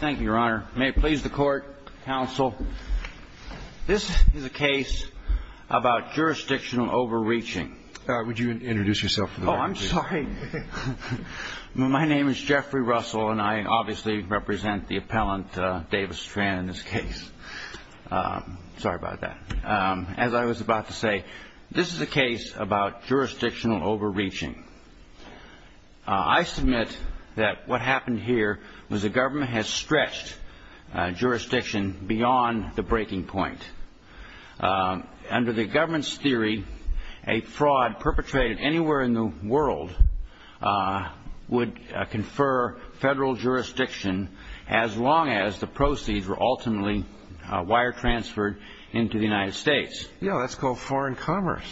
Thank you, your honor. May it please the court, counsel. This is a case about jurisdictional overreaching. Would you introduce yourself? Oh, I'm sorry. My name is Jeffrey Russell, and I obviously represent the appellant, Davis Tran, in this case. Sorry about that. As I was about to say, this is a case about jurisdictional overreaching. I submit that what happened here was the government has stretched jurisdiction beyond the breaking point. Under the government's theory, a fraud perpetrated anywhere in the world would confer federal jurisdiction as long as the proceeds were ultimately wire transferred into the United States. Yeah, that's called foreign commerce.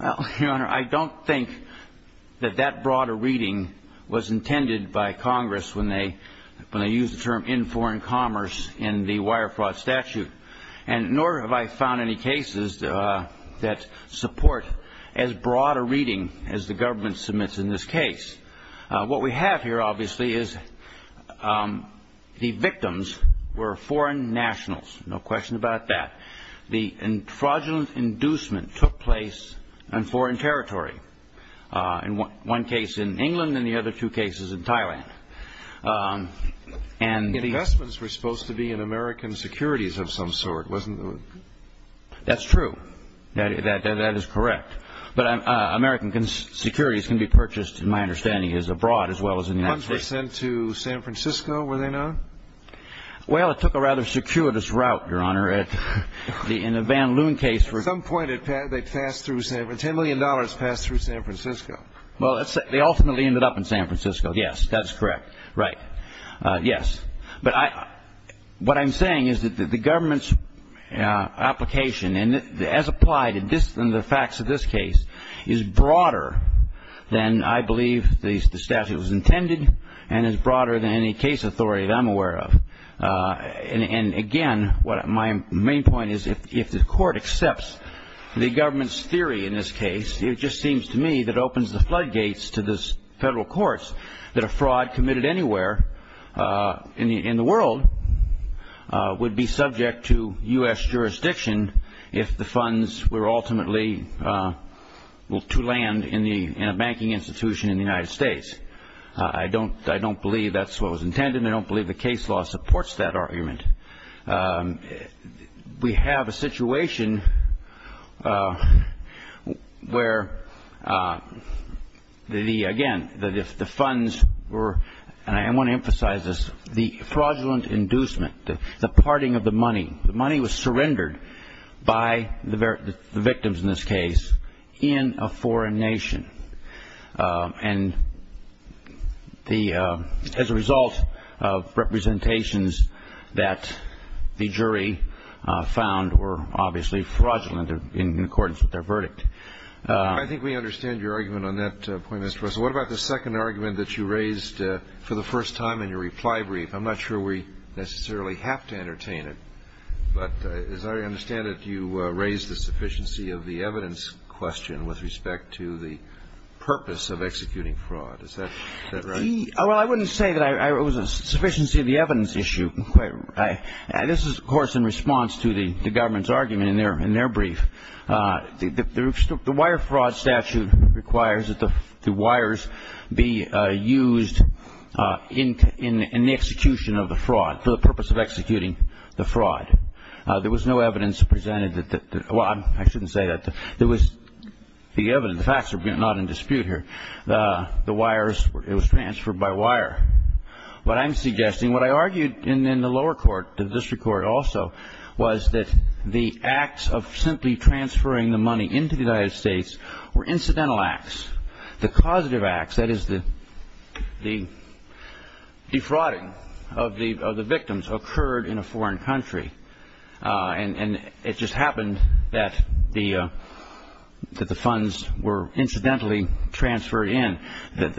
Well, your honor, I don't think that that broader reading was intended by Congress when they used the term in foreign commerce in the wire fraud statute. And nor have I found any cases that support as broad a reading as the government submits in this case. What we have here, obviously, is the victims were foreign nationals. No question about that. The fraudulent inducement took place on foreign territory, in one case in England and the other two cases in Thailand. And the investments were supposed to be in American securities of some sort, wasn't it? That's true. That is correct. But American securities can be purchased, in my understanding, as abroad as well as in the United States. The funds were sent to San Francisco, were they not? Well, it took a rather circuitous route, your honor, in the Van Loon case. At some point, they passed through San Francisco. Ten million dollars passed through San Francisco. Well, they ultimately ended up in San Francisco. Yes, that's correct. Right. Yes. But what I'm saying is that the government's application, as applied in the facts of this case, is broader than I believe the statute was intended and is broader than any case authority that I'm aware of. And again, my main point is if the court accepts the government's theory in this case, it just seems to me that opens the floodgates to the federal courts that a fraud committed anywhere in the world would be subject to U.S. jurisdiction if the funds were ultimately to land in a banking institution in the United States. I don't believe that's what was intended, and I don't believe the case law supports that argument. We have a situation where, again, the funds were, and I want to emphasize this, the fraudulent inducement, the parting of the money, the money was surrendered by the victims in this case in a foreign nation. And as a result of representations that the jury found were obviously fraudulent in accordance with their verdict. I think we understand your argument on that point, Mr. Russell. What about the second argument that you raised for the first time in your reply brief? I'm not sure we necessarily have to entertain it, but as I understand it, you raised the sufficiency of the evidence question with respect to the purpose of executing fraud. Is that right? Well, I wouldn't say that it was a sufficiency of the evidence issue. This is, of course, in response to the government's argument in their brief. The wire fraud statute requires that the wires be used in the execution of the fraud for the purpose of executing the fraud. There was no evidence presented that, well, I shouldn't say that. There was the evidence, the facts are not in dispute here. The wires, it was transferred by wire. What I'm suggesting, what I argued in the lower court, the district court also, was that the acts of simply transferring the money into the United States were incidental acts. The causative acts, that is the defrauding of the victims, occurred in a foreign country. And it just happened that the funds were incidentally transferred in. There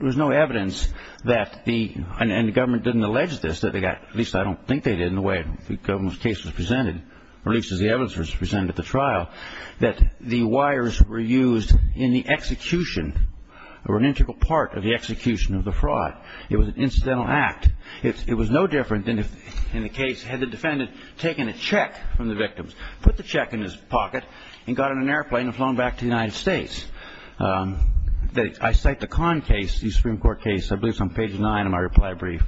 was no evidence that the, and the government didn't allege this, at least I don't think they did in the way the government's case was presented, or at least as the evidence was presented at the trial, that the wires were used in the execution or an integral part of the execution of the fraud. It was an incidental act. It was no different than if, in the case, had the defendant taken a check from the victims, put the check in his pocket, and got on an airplane and flown back to the United States. I cite the Kahn case, the Supreme Court case, I believe it's on page 9 of my reply brief,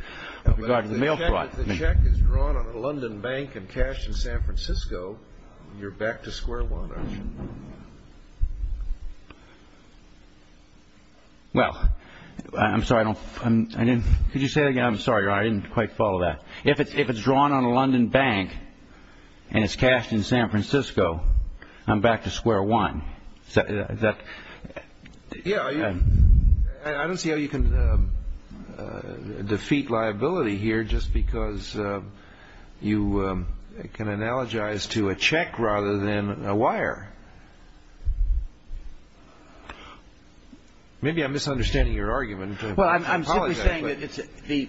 with regard to the mail fraud. If the check is drawn on a London bank and cashed in San Francisco, you're back to square one, aren't you? Well, I'm sorry, I don't, I didn't, could you say that again? I'm sorry, Your Honor, I didn't quite follow that. If it's drawn on a London bank and it's cashed in San Francisco, I'm back to square one. Yeah, I don't see how you can defeat liability here just because you can analogize to a check rather than a wire. Maybe I'm misunderstanding your argument. Well, I'm simply saying that the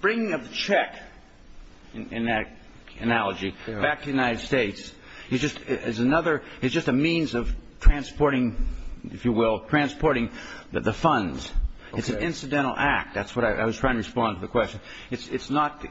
bringing of the check, in that analogy, back to the United States, is just another, it's just a means of transporting, if you will, transporting the funds. Okay. It's an incidental act. That's what I was trying to respond to the question. It's not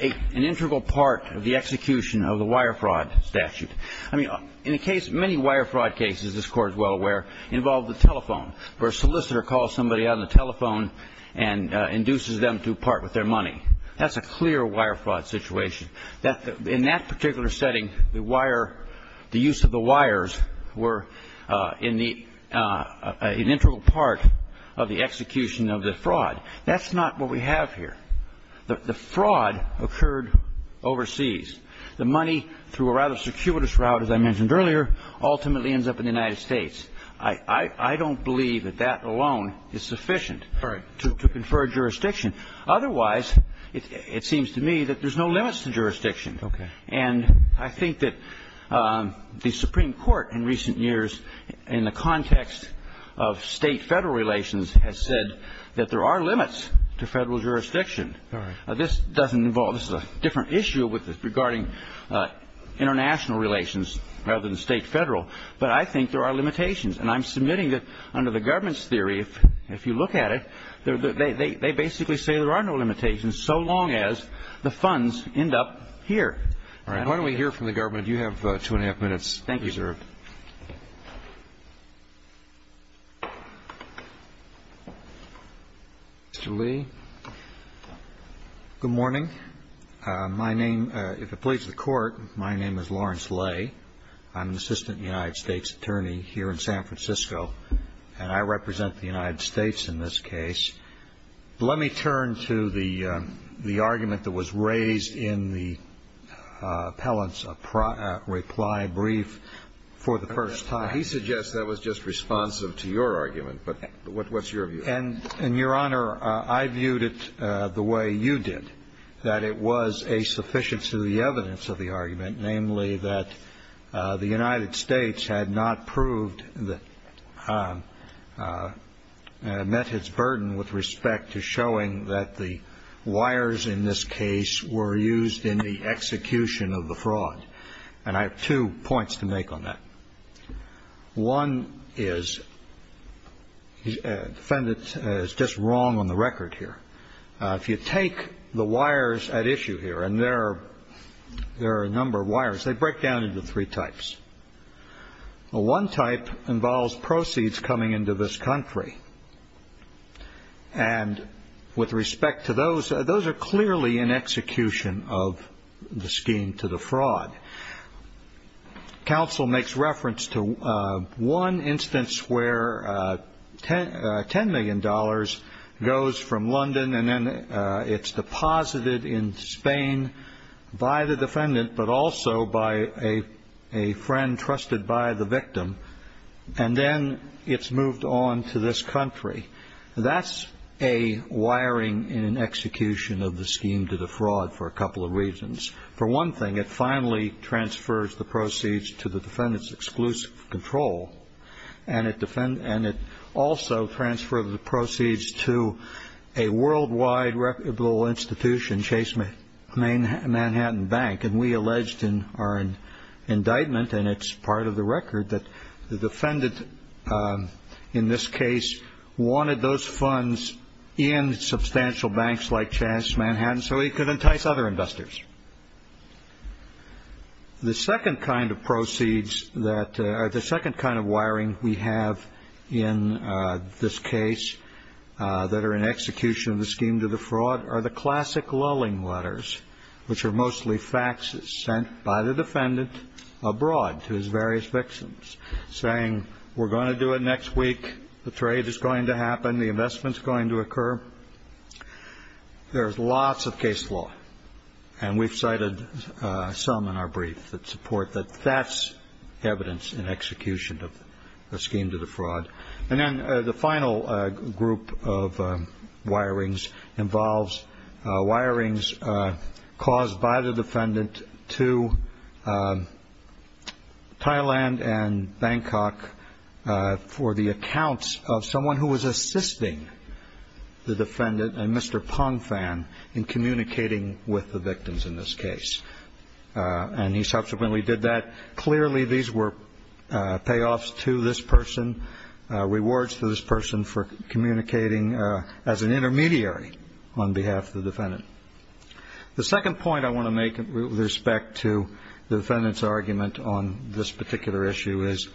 an integral part of the execution of the wire fraud statute. I mean, in the case, many wire fraud cases, this Court is well aware, involve the telephone, where a solicitor calls somebody on the telephone and induces them to part with their money. That's a clear wire fraud situation. In that particular setting, the use of the wires were an integral part of the execution of the fraud. That's not what we have here. The fraud occurred overseas. The money, through a rather circuitous route, as I mentioned earlier, ultimately ends up in the United States. I don't believe that that alone is sufficient to confer jurisdiction. Otherwise, it seems to me that there's no limits to jurisdiction. Okay. And I think that the Supreme Court in recent years, in the context of state-federal relations, has said that there are limits to federal jurisdiction. This doesn't involve, this is a different issue regarding international relations rather than state-federal, but I think there are limitations, and I'm submitting that under the government's theory, if you look at it, they basically say there are no limitations so long as the funds end up here. All right. Why don't we hear from the government? You have two and a half minutes reserved. Thank you. Mr. Lee. Good morning. My name, if it pleases the Court, my name is Lawrence Lay. I'm an assistant United States attorney here in San Francisco, and I represent the United States in this case. Let me turn to the argument that was raised in the appellant's reply brief for the first time. He suggests that was just responsive to your argument, but what's your view? And, Your Honor, I viewed it the way you did, that it was a sufficient to the evidence of the argument, namely that the United States had not proved that, met its burden with respect to showing that the wires in this case were used in the execution of the fraud. And I have two points to make on that. One is, the defendant is just wrong on the record here. If you take the wires at issue here, and there are a number of wires, they break down into three types. One type involves proceeds coming into this country, and with respect to those, those are clearly an execution of the scheme to the fraud. Counsel makes reference to one instance where $10 million goes from London, and then it's deposited in Spain by the defendant, but also by a friend trusted by the victim, and then it's moved on to this country. That's a wiring in execution of the scheme to the fraud for a couple of reasons. For one thing, it finally transfers the proceeds to the defendant's exclusive control, and it also transfers the proceeds to a worldwide reputable institution, Chase Manhattan Bank. And we alleged in our indictment, and it's part of the record, that the defendant in this case wanted those funds in substantial banks like Chase Manhattan so he could entice other investors. The second kind of proceeds that are the second kind of wiring we have in this case that are an execution of the scheme to the fraud are the classic lulling letters, which are mostly faxes sent by the defendant abroad to his various victims, saying, we're going to do it next week, the trade is going to happen, the investment is going to occur. There's lots of case law, and we've cited some in our brief that support that. That's evidence in execution of the scheme to the fraud. And then the final group of wirings involves wirings caused by the defendant to Thailand and Bangkok for the accounts of someone who was assisting the defendant and Mr. Pong Fan in communicating with the victims in this case. And he subsequently did that. Clearly, these were payoffs to this person, rewards to this person for communicating as an intermediary on behalf of the defendant. The second point I want to make with respect to the defendant's argument on this particular issue is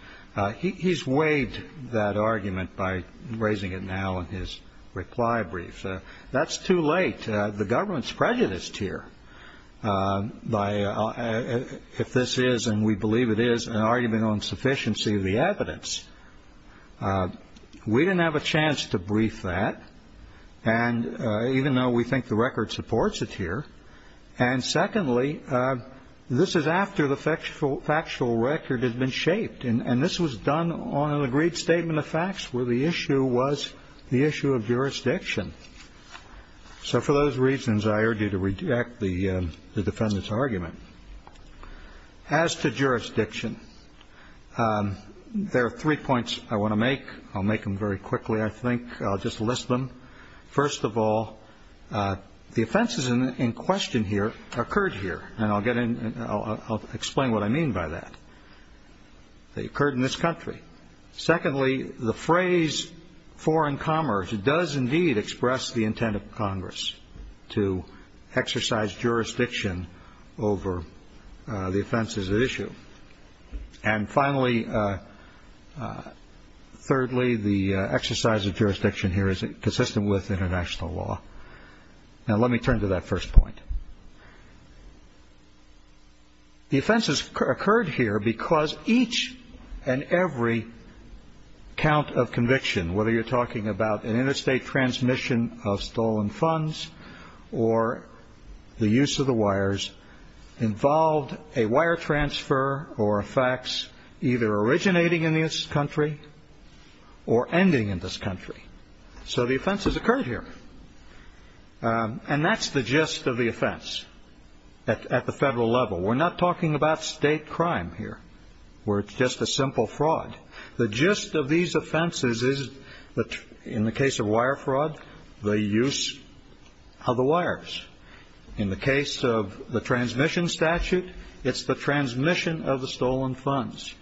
he's weighed that argument by raising it now in his reply brief. That's too late. The government's prejudiced here by if this is, and we believe it is, an argument on sufficiency of the evidence. We didn't have a chance to brief that, even though we think the record supports it here. And secondly, this is after the factual record has been shaped. And this was done on an agreed statement of facts where the issue was the issue of jurisdiction. So for those reasons, I urge you to reject the defendant's argument. As to jurisdiction, there are three points I want to make. I'll make them very quickly, I think. I'll just list them. First of all, the offenses in question here occurred here. And I'll explain what I mean by that. They occurred in this country. Secondly, the phrase foreign commerce does indeed express the intent of Congress to exercise jurisdiction over the offenses at issue. And finally, thirdly, the exercise of jurisdiction here is consistent with international law. Now let me turn to that first point. The offenses occurred here because each and every count of conviction, whether you're talking about an interstate transmission of stolen funds or the use of the wires, involved a wire transfer or a fax either originating in this country or ending in this country. So the offenses occurred here. And that's the gist of the offense at the federal level. We're not talking about state crime here, where it's just a simple fraud. The gist of these offenses is that in the case of wire fraud, the use of the wires. In the case of the transmission statute, it's the transmission of the stolen funds.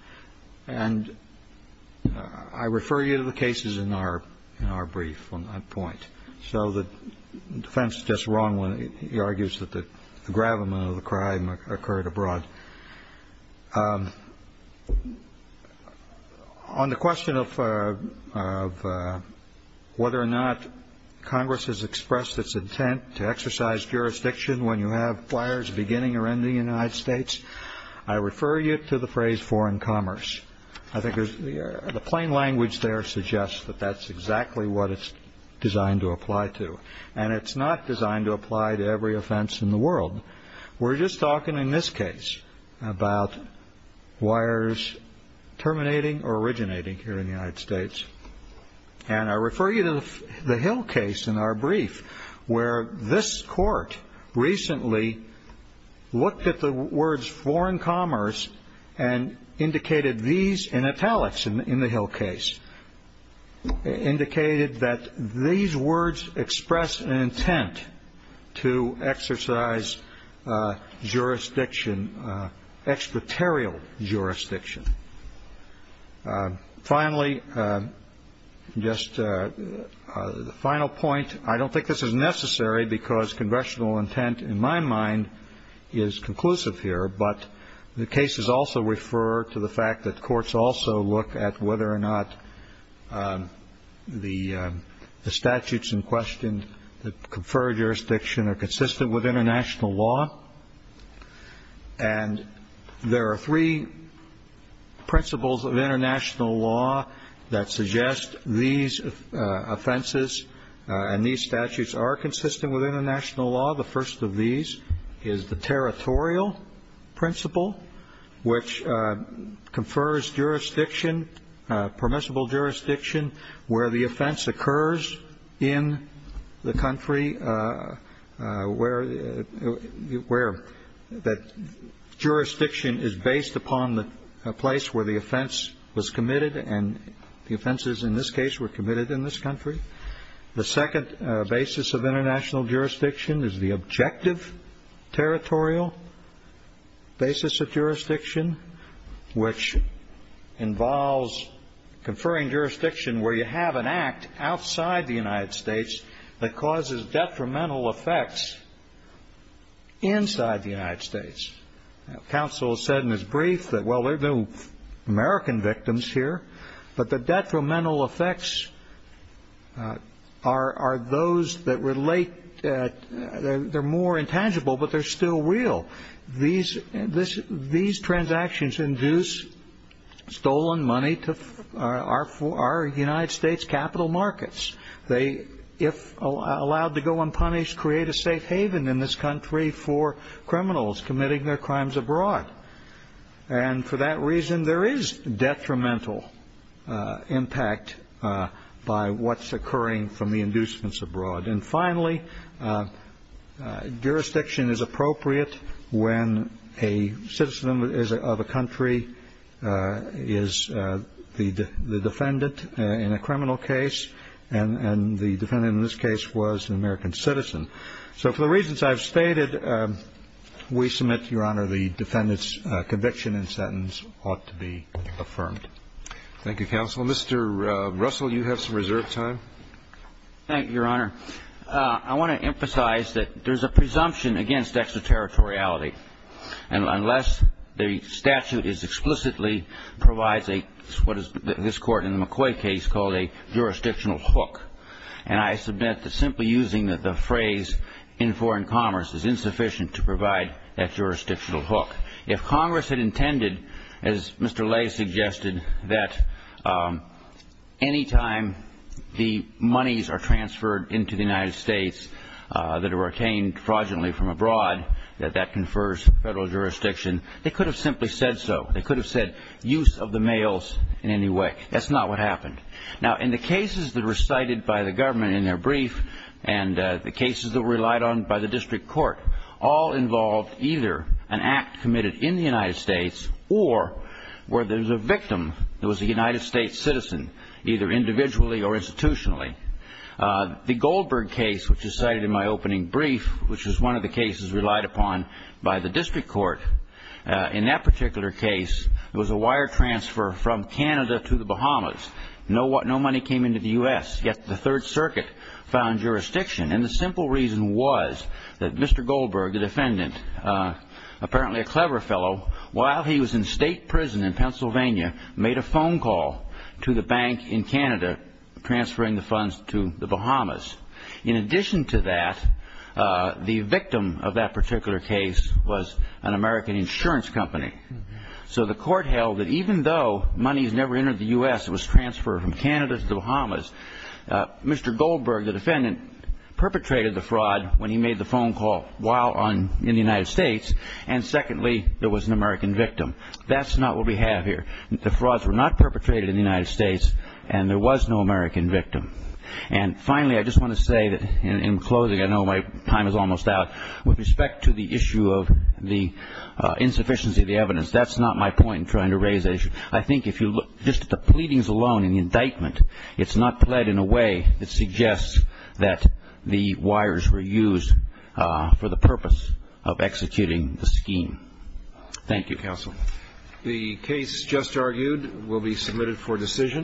And I refer you to the cases in our brief on that point. So the defense is just wrong when he argues that the gravamen of the crime occurred abroad. On the question of whether or not Congress has expressed its intent to exercise jurisdiction when you have flyers beginning or ending in the United States, I refer you to the phrase foreign commerce. I think the plain language there suggests that that's exactly what it's designed to apply to. And it's not designed to apply to every offense in the world. We're just talking in this case about wires terminating or originating here in the United States. And I refer you to the Hill case in our brief, where this court recently looked at the words foreign commerce and indicated these in italics in the Hill case, indicated that these words express an intent to exercise jurisdiction, expertarial jurisdiction. Finally, just the final point, I don't think this is necessary because congressional intent, in my mind, is conclusive here. But the cases also refer to the fact that courts also look at whether or not the statutes in question, the conferred jurisdiction are consistent with international law. And there are three principles of international law that suggest these offenses and these statutes are consistent with international law. The first of these is the territorial principle, which confers jurisdiction, permissible jurisdiction, where the offense occurs in the country, where that jurisdiction is based upon the place where the offense was committed. And the offenses in this case were committed in this country. The second basis of international jurisdiction is the objective territorial basis of jurisdiction, which involves conferring jurisdiction where you have an act outside the United States that causes detrimental effects inside the United States. Counsel said in his brief that, well, there are no American victims here, but the detrimental effects are those that relate, they're more intangible, but they're still real. These transactions induce stolen money to our United States capital markets. They, if allowed to go unpunished, create a safe haven in this country for criminals committing their crimes abroad. And for that reason, there is detrimental impact by what's occurring from the inducements abroad. And finally, jurisdiction is appropriate when a citizen of a country is the defendant in a criminal case and the defendant in this case was an American citizen. So for the reasons I've stated, we submit, Your Honor, the defendant's conviction and sentence ought to be affirmed. Thank you, Counsel. Mr. Russell, you have some reserved time. Thank you, Your Honor. I want to emphasize that there's a presumption against extraterritoriality. And unless the statute explicitly provides what this Court in the McCoy case called a jurisdictional hook, and I submit that simply using the phrase in foreign commerce is insufficient to provide that jurisdictional hook. If Congress had intended, as Mr. Lay suggested, that any time the monies are transferred into the United States that are obtained fraudulently from abroad, that that confers federal jurisdiction, they could have simply said so. They could have said use of the mails in any way. That's not what happened. Now, in the cases that were cited by the government in their brief and the cases that were relied on by the district court, all involved either an act committed in the United States or where there's a victim that was a United States citizen, either individually or institutionally. The Goldberg case, which is cited in my opening brief, which is one of the cases relied upon by the district court, in that particular case, it was a wire transfer from Canada to the Bahamas. No money came into the U.S., yet the Third Circuit found jurisdiction. And the simple reason was that Mr. Goldberg, the defendant, apparently a clever fellow, while he was in state prison in Pennsylvania, made a phone call to the bank in Canada transferring the funds to the Bahamas. In addition to that, the victim of that particular case was an American insurance company. So the court held that even though money has never entered the U.S., it was transferred from Canada to the Bahamas. Mr. Goldberg, the defendant, perpetrated the fraud when he made the phone call while in the United States. And secondly, there was an American victim. That's not what we have here. The frauds were not perpetrated in the United States, and there was no American victim. And finally, I just want to say that in closing, I know my time is almost out, with respect to the issue of the insufficiency of the evidence, that's not my point in trying to raise the issue. I think if you look just at the pleadings alone in the indictment, it's not pled in a way that suggests that the wires were used for the purpose of executing the scheme. Thank you, counsel. The case just argued will be submitted for decision.